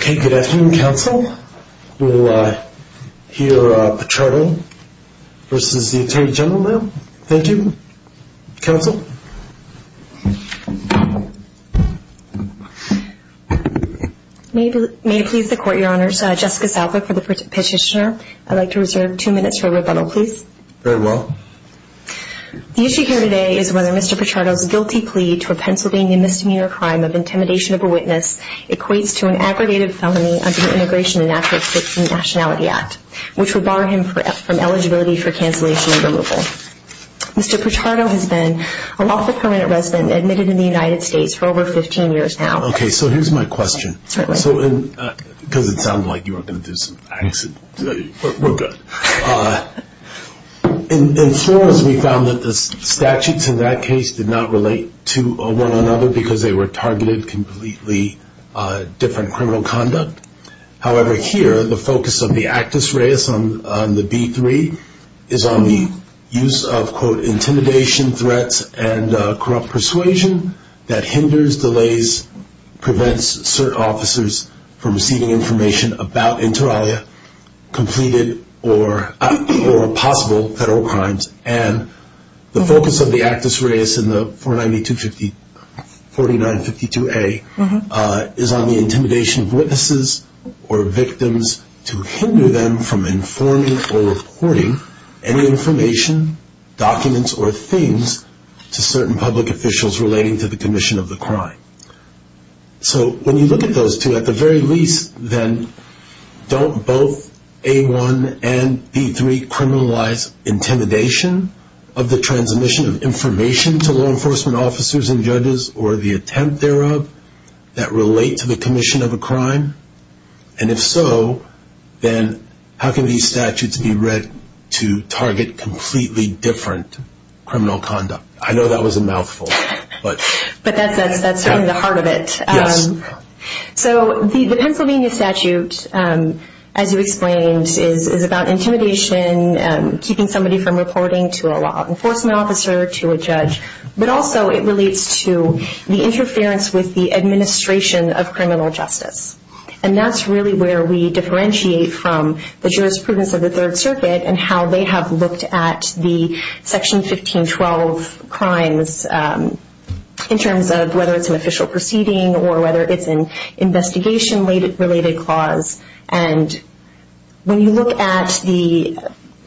Good afternoon, counsel. We'll hear Pichardo v. Atty Gen now. Thank you, counsel. May it please the Court, Your Honors, Jessica Southwick for the petitioner. I'd like to reserve two minutes for rebuttal, please. Very well. The issue here today is whether Mr. Pichardo's guilty plea to a Pennsylvania misdemeanor crime of intimidation of a witness equates to an aggravated felony under the Immigration and Access to Nationality Act, which would bar him from eligibility for cancellation and removal. Mr. Pichardo has been a lawful permanent resident admitted in the United States for over 15 years now. Okay, so here's my question, because it sounded like you were going to do some accent. We're good. In Florence, we found that the statutes in that case did not relate to one another because they were targeted completely different criminal conduct. However, here, the focus of the actus reus on the B-3 is on the use of, quote, intimidation, threats, and corrupt persuasion that hinders, delays, prevents certain officers from receiving information about inter alia, completed or possible federal crimes. And the focus of the actus reus in the 4952A is on the intimidation of witnesses or victims to hinder them from informing or reporting any information, documents, or things to certain public officials relating to the commission of the crime. So when you look at those two, at the very least, then don't both A-1 and B-3 criminalize intimidation of the transmission of information to law enforcement officers and judges or the attempt thereof that relate to the commission of a crime? And if so, then how can these statutes be read to target completely different criminal conduct? I know that was a mouthful. But that's certainly the heart of it. Yes. So the Pennsylvania statute, as you explained, is about intimidation, keeping somebody from reporting to a law enforcement officer, to a judge. But also it relates to the interference with the administration of criminal justice. And that's really where we differentiate from the jurisprudence of the Third Circuit and how they have looked at the Section 1512 crimes in terms of whether it's an official proceeding or whether it's an investigation-related clause. And when you look at the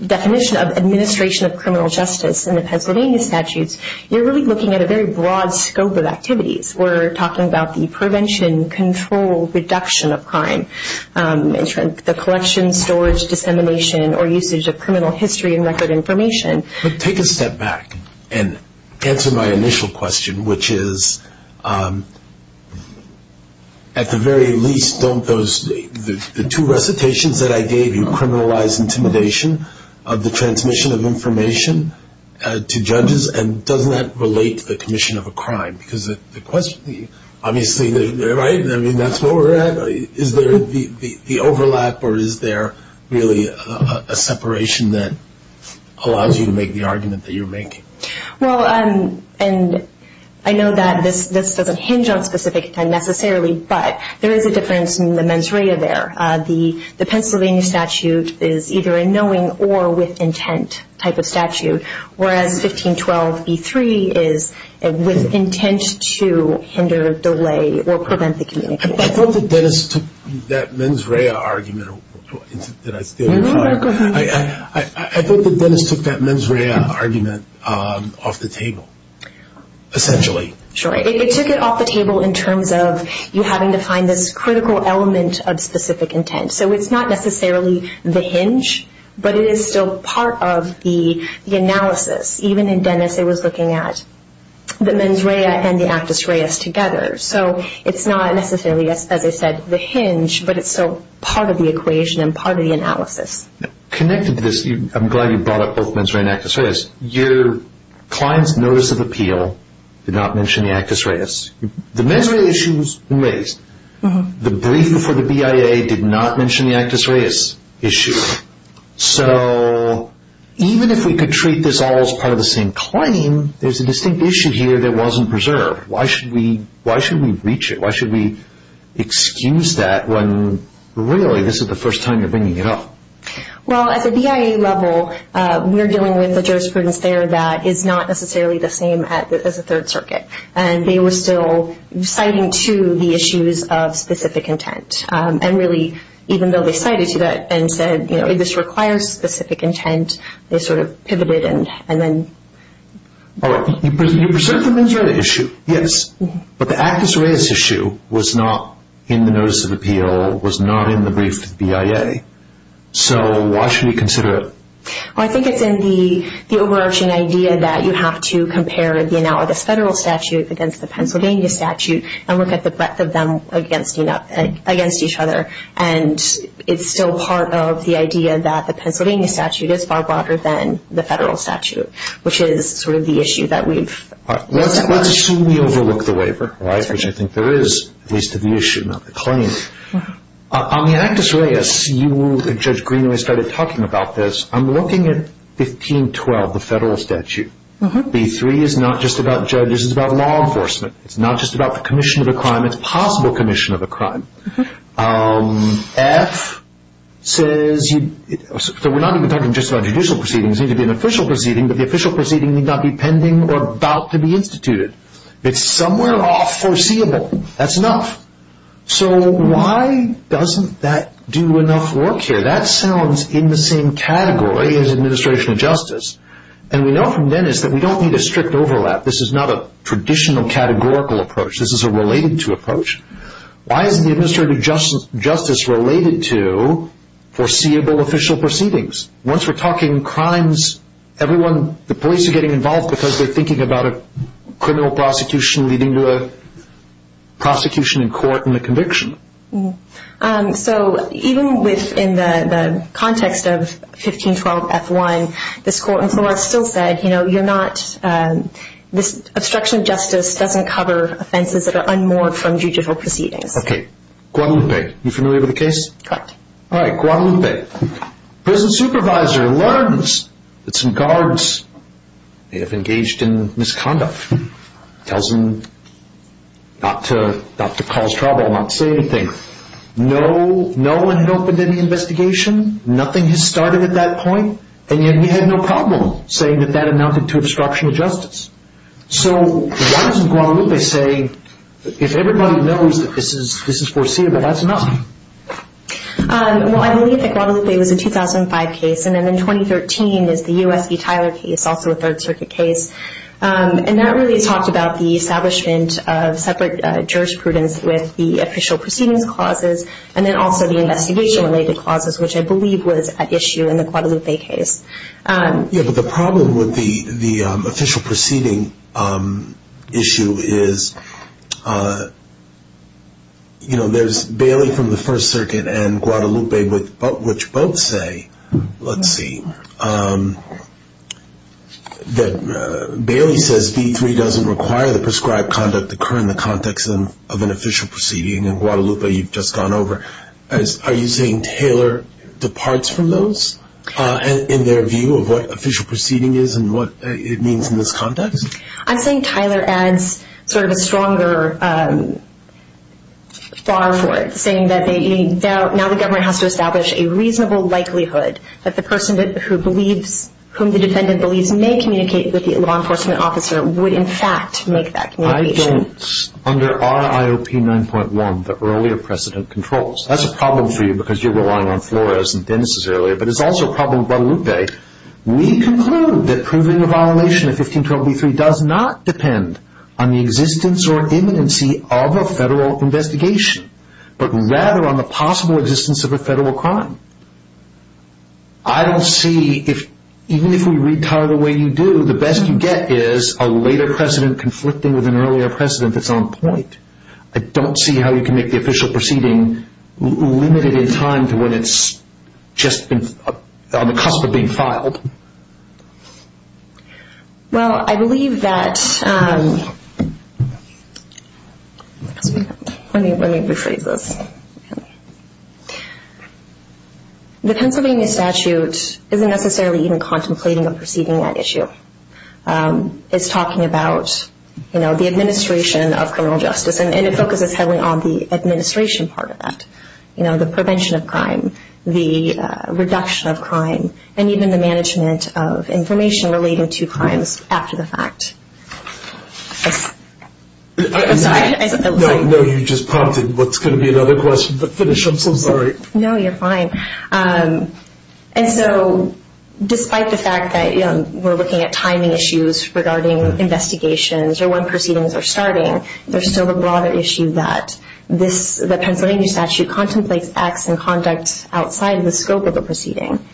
definition of administration of criminal justice in the Pennsylvania statutes, you're really looking at a very broad scope of activities. We're talking about the prevention, control, reduction of crime, the collection, storage, dissemination, or usage of criminal history and record information. But take a step back and answer my initial question, which is, at the very least, don't the two recitations that I gave you criminalize intimidation of the transmission of information to judges? And doesn't that relate to the commission of a crime? Because the question, obviously, right? I mean, that's where we're at. Is there the overlap or is there really a separation that allows you to make the argument that you're making? Well, and I know that this doesn't hinge on specific necessarily, but there is a difference in the mens rea there. The Pennsylvania statute is either a knowing or with intent type of statute, whereas 1512b3 is with intent to hinder, delay, or prevent the communication. I thought that Dennis took that mens rea argument off the table, essentially. Sure. It took it off the table in terms of you having to find this critical element of specific intent. So it's not necessarily the hinge, but it is still part of the analysis. Even in Dennis, it was looking at the mens rea and the actus reus together. So it's not necessarily, as I said, the hinge, but it's still part of the equation and part of the analysis. Connected to this, I'm glad you brought up both mens rea and actus reus. Your client's notice of appeal did not mention the actus reus. The mens rea issue was raised. The brief before the BIA did not mention the actus reus issue. So even if we could treat this all as part of the same claim, there's a distinct issue here that wasn't preserved. Why should we breach it? Why should we excuse that when, really, this is the first time you're bringing it up? Well, at the BIA level, we're dealing with a jurisprudence there that is not necessarily the same as the Third Circuit. And they were still citing to the issues of specific intent. And really, even though they cited to that and said, you know, this requires specific intent, they sort of pivoted and then... You preserved the mens rea issue, yes. But the actus reus issue was not in the notice of appeal, was not in the brief to the BIA. So why should we consider it? I think it's in the overarching idea that you have to compare the analogous federal statute against the Pennsylvania statute and look at the breadth of them against each other. And it's still part of the idea that the Pennsylvania statute is far broader than the federal statute, which is sort of the issue that we've... Let's assume we overlook the waiver, which I think there is, at least to the issue, not the claim. On the actus reus, you and Judge Greenway started talking about this. I'm looking at 1512, the federal statute. B-3 is not just about judges. It's about law enforcement. It's not just about the commission of a crime. It's a possible commission of a crime. F says... So we're not even talking just about judicial proceedings. It needs to be an official proceeding, but the official proceeding need not be pending or about to be instituted. It's somewhere off foreseeable. That's enough. So why doesn't that do enough work here? That sounds in the same category as administration of justice. And we know from Dennis that we don't need a strict overlap. This is not a traditional categorical approach. This is a related-to approach. Why isn't the administration of justice related to foreseeable official proceedings? Once we're talking crimes, everyone, the police are getting involved because they're thinking about a criminal prosecution leading to a prosecution in court and a conviction. So even within the context of 1512 F-1, this court in Florida still said, you know, you're not... Obstruction of justice doesn't cover offenses that are unmoored from judicial proceedings. Guadalupe. You familiar with the case? Correct. All right, Guadalupe. Prison supervisor learns that some guards may have engaged in misconduct. Tells him not to cause trouble, not say anything. No one had opened any investigation. Nothing had started at that point. And yet he had no problem saying that that amounted to obstruction of justice. So why doesn't Guadalupe say, if everybody knows that this is foreseeable, that's enough? Well, I believe that Guadalupe was a 2005 case. And then in 2013 is the U.S. v. Tyler case, also a Third Circuit case. And that really talked about the establishment of separate jurisprudence with the official proceedings clauses and then also the investigation-related clauses, which I believe was at issue in the Guadalupe case. Yeah, but the problem with the official proceeding issue is, you know, there's Bailey from the First Circuit and Guadalupe, which both say, let's see, that Bailey says v. 3 doesn't require the prescribed conduct to occur in the context of an official proceeding. And Guadalupe, you've just gone over. Are you saying Tyler departs from those in their view of what official proceeding is and what it means in this context? I'm saying Tyler adds sort of a stronger bar for it, saying that now the government has to establish a reasonable likelihood that the person whom the defendant believes may communicate with the law enforcement officer would in fact make that communication. And I don't, under our IOP 9.1, the earlier precedent controls. That's a problem for you because you're relying on Flores and Dennis' earlier, but it's also a problem with Guadalupe. We conclude that proving a violation of 1512 v. 3 does not depend on the existence or imminency of a federal investigation, but rather on the possible existence of a federal crime. I don't see, even if we read Tyler the way you do, the best you get is a later precedent conflicting with an earlier precedent that's on point. I don't see how you can make the official proceeding limited in time to when it's just on the cusp of being filed. Well, I believe that, let me rephrase this. The Pennsylvania statute isn't necessarily even contemplating a proceeding at issue. It's talking about the administration of criminal justice, and it focuses heavily on the administration part of that. The prevention of crime, the reduction of crime, and even the management of information relating to crimes after the fact. I'm sorry. No, you just prompted what's going to be another question, but finish. I'm so sorry. No, you're fine. And so, despite the fact that we're looking at timing issues regarding investigations or when proceedings are starting, there's still the broader issue that the Pennsylvania statute contemplates acts and conduct outside of the scope of the proceeding.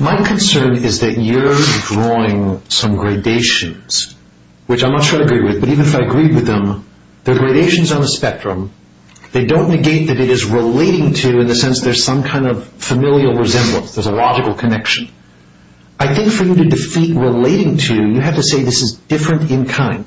My concern is that you're drawing some gradations, which I'm not sure I agree with, but even if I agreed with them, they're gradations on a spectrum. They don't negate that it is relating to, in a sense, there's some kind of familial resemblance. There's a logical connection. I think for you to defeat relating to, you have to say this is different in kind.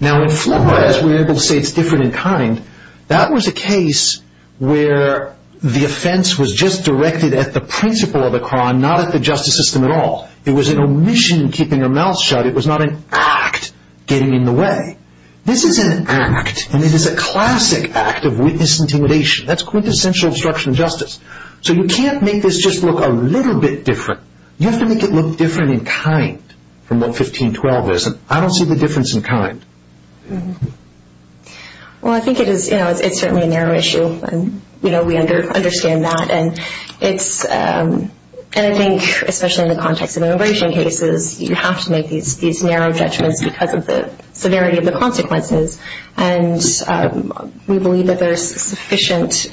Now, in Flores, we're able to say it's different in kind. That was a case where the offense was just directed at the principle of the crime, not at the justice system at all. It was an omission in keeping her mouth shut. It was not an act getting in the way. This is an act, and it is a classic act of witness intimidation. That's quintessential obstruction of justice. So you can't make this just look a little bit different. You have to make it look different in kind from what 1512 is. I don't see the difference in kind. Well, I think it is certainly a narrow issue, and we understand that. And I think, especially in the context of immigration cases, you have to make these narrow judgments because of the severity of the consequences. And we believe that there's sufficient,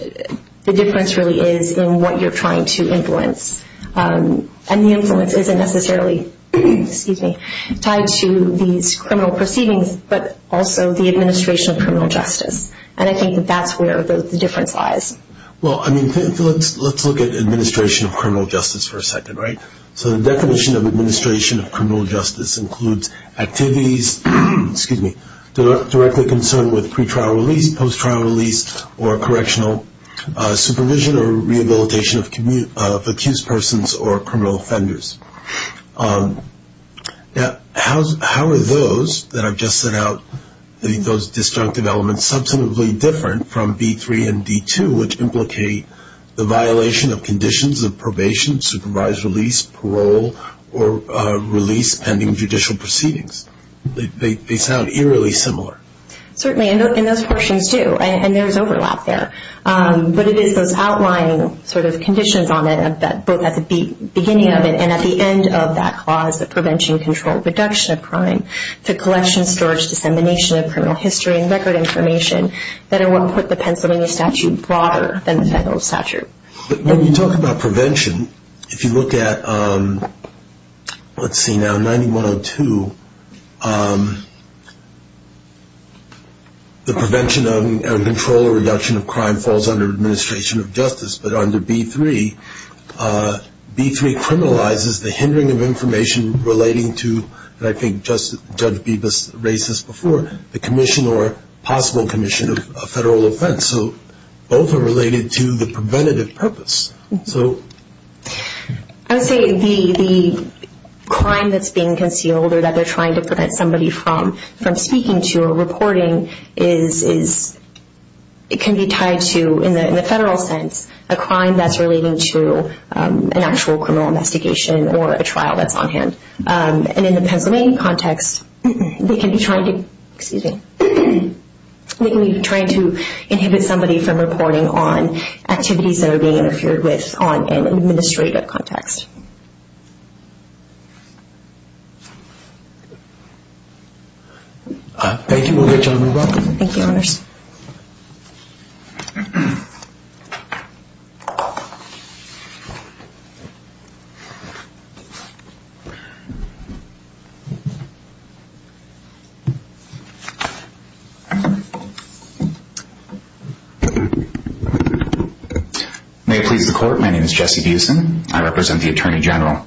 the difference really is in what you're trying to influence. And the influence isn't necessarily tied to these criminal proceedings, but also the administration of criminal justice. And I think that that's where the difference lies. Well, I mean, let's look at administration of criminal justice for a second, right? So the definition of administration of criminal justice includes activities, excuse me, directly concerned with pre-trial release, post-trial release, or correctional supervision or rehabilitation of accused persons or criminal offenders. Now, how are those that I've just set out, those destructive elements substantively different from B3 and D2, which implicate the violation of conditions of probation, supervised release, parole, or release pending judicial proceedings? They sound eerily similar. Certainly, and those portions do. And there's overlap there. But it is those outlying sort of conditions on it, both at the beginning of it and at the end of that clause, the prevention, control, reduction of crime, the collection, storage, dissemination of criminal history and record information that are what put the Pennsylvania statute broader than the federal statute. But when you talk about prevention, if you look at, let's see now, 9102, the prevention of and control or reduction of crime falls under administration of justice. But under B3, B3 criminalizes the hindering of information relating to, and I think Judge Bebas raised this before, the commission or possible commission of federal offense. So both are related to the preventative purpose. I would say the crime that's being concealed or that they're trying to prevent somebody from speaking to or reporting is, it can be tied to, in the federal sense, a crime that's relating to an actual criminal investigation or a trial that's on hand. And in the Pennsylvania context, they can be trying to, excuse me, they can be trying to inhibit somebody from reporting on activities that are being interfered with on an administrative context. Thank you, Morgan. You're welcome. Thank you, Honors. Thank you. May it please the Court. My name is Jesse Buesen. I represent the Attorney General.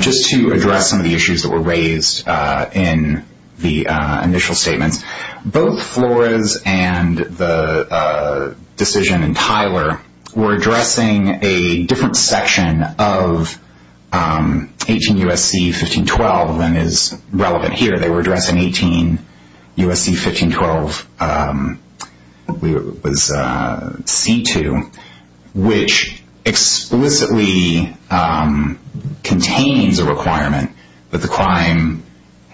Just to address some of the issues that were raised in the initial statements, both Flores and the decision in Tyler were addressing a different section of 18 U.S.C. 1512 than is relevant here. They were addressing 18 U.S.C. 1512 C2, which explicitly contains a requirement that the crime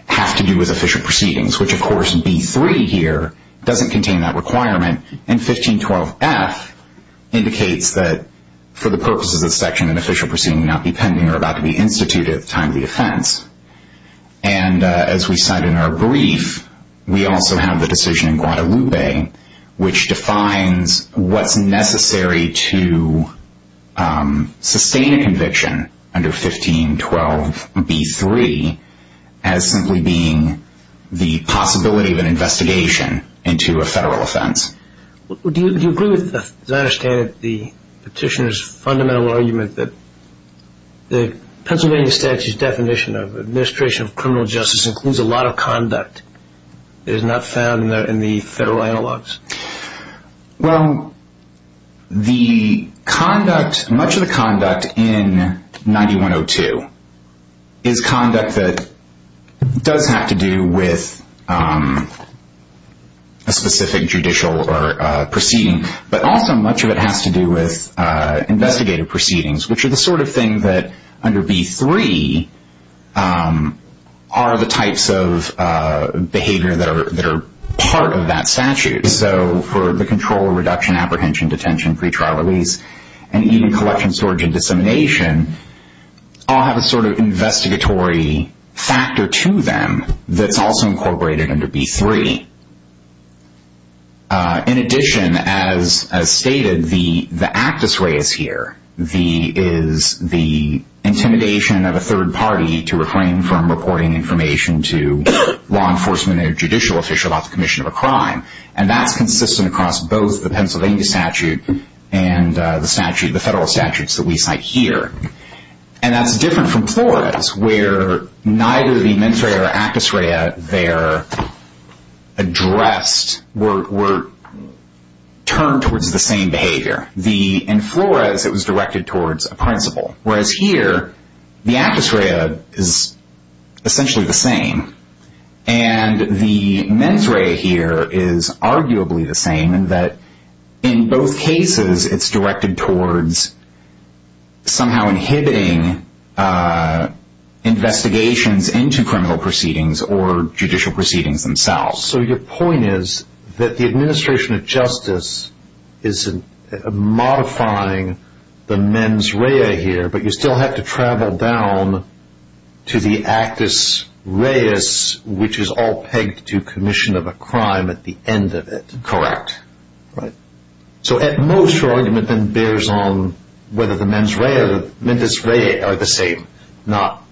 have to do with official proceedings, which, of course, B3 here doesn't contain that requirement. And 1512 F indicates that for the purposes of section, an official proceeding may not be pending or about to be instituted at the time of the offense. And as we said in our brief, we also have the decision in Guadalupe, which defines what's necessary to sustain a conviction under 1512 B3 as simply being the possibility of an investigation into a federal offense. Do you agree with, as I understand it, the petitioner's fundamental argument that the Pennsylvania statute's definition of administration of criminal justice includes a lot of conduct that is not found in the federal analogs? Well, much of the conduct in 9102 is conduct that does have to do with a specific judicial proceeding, but also much of it has to do with investigative proceedings, which are the sort of thing that under B3 are the types of behavior that are part of that statute. So for the control, reduction, apprehension, detention, pretrial release, and even collection, storage, and dissemination all have a sort of investigatory factor to them that's also incorporated under B3. In addition, as stated, the actus reis here is the intimidation of a third party to refrain from reporting information to law enforcement or judicial official about the commission of a crime. And that's consistent across both the Pennsylvania statute and the federal statutes that we cite here. And that's different from Flores, where neither the mens rea or actus rea there addressed were turned towards the same behavior. In Flores, it was directed towards a principle, whereas here, the actus rea is essentially the same. And the mens rea here is arguably the same in that in both cases, it's directed towards somehow inhibiting investigations into criminal proceedings or judicial proceedings themselves. So your point is that the administration of justice is modifying the mens rea here, but you still have to travel down to the actus reis, which is all pegged to commission of a crime at the end of it. Correct. Right. So at most, your argument then bears on whether the mens rea or the mentis rea are the same, not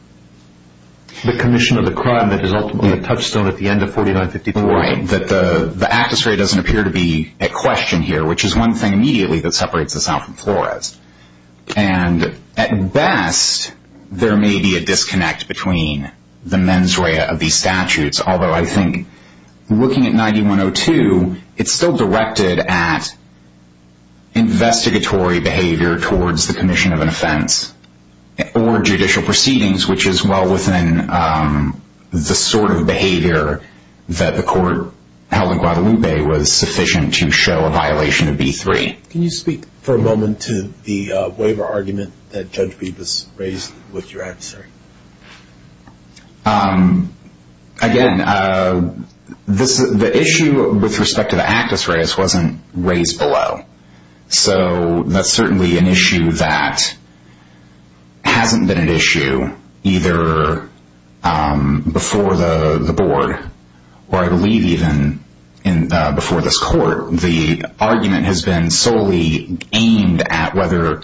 the commission of the crime that is ultimately a touchstone at the end of 4954. Right. That the actus rea doesn't appear to be at question here, which is one thing immediately that separates this out from Flores. And at best, there may be a disconnect between the mens rea of these statutes, although I think looking at 9102, it's still directed at investigatory behavior towards the commission of an offense or judicial proceedings, which is well within the sort of behavior that the court held in Guadalupe was sufficient to show a violation of B3. Can you speak for a moment to the waiver argument that Judge Bevis raised with your adversary? Again, the issue with respect to the actus reis wasn't raised below. So that's certainly an issue that hasn't been an issue either before the board or I believe even before this court. The argument has been solely aimed at whether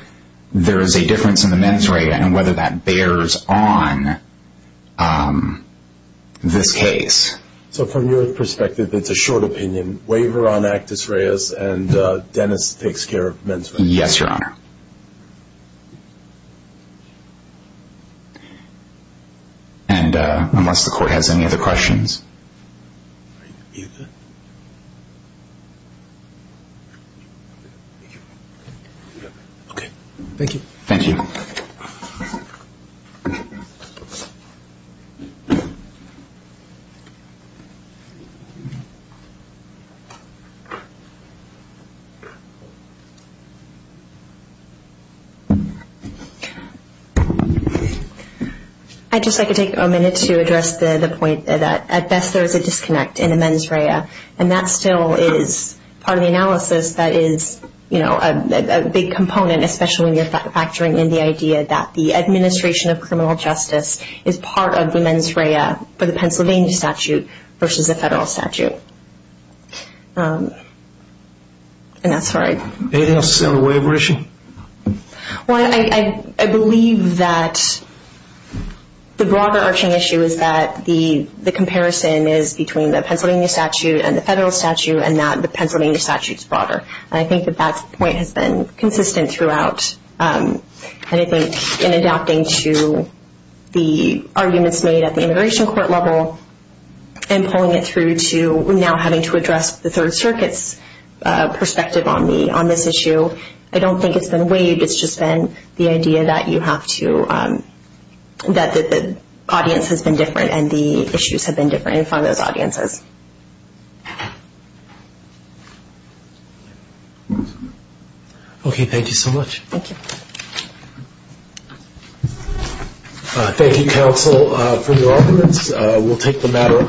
there is a difference in the mens rea and whether that bears on this case. So from your perspective, it's a short opinion. Waiver on actus reas and Dennis takes care of mens rea. Yes, Your Honor. And unless the court has any other questions. Okay. Thank you. Thank you. I'd just like to take a minute to address the point that at best there is a disconnect in the mens rea and that still is part of the analysis that is, you know, a big component, especially when you're factoring in the actus rea. that the administration of criminal justice is part of the mens rea for the Pennsylvania statute versus the federal statute. Anything else to say on the waiver issue? Well, I believe that the broader arching issue is that the comparison is between the Pennsylvania statute and the federal statute and that the Pennsylvania statute is broader. And I think that that point has been consistent throughout. And I think in adapting to the arguments made at the immigration court level and pulling it through to now having to address the Third Circuit's perspective on this issue, I don't think it's been waived. It's just been the idea that you have to, that the audience has been different and the issues have been different in front of those audiences. Okay. Thank you so much. Thank you. Thank you, counsel, for your arguments. We'll take the matter under review.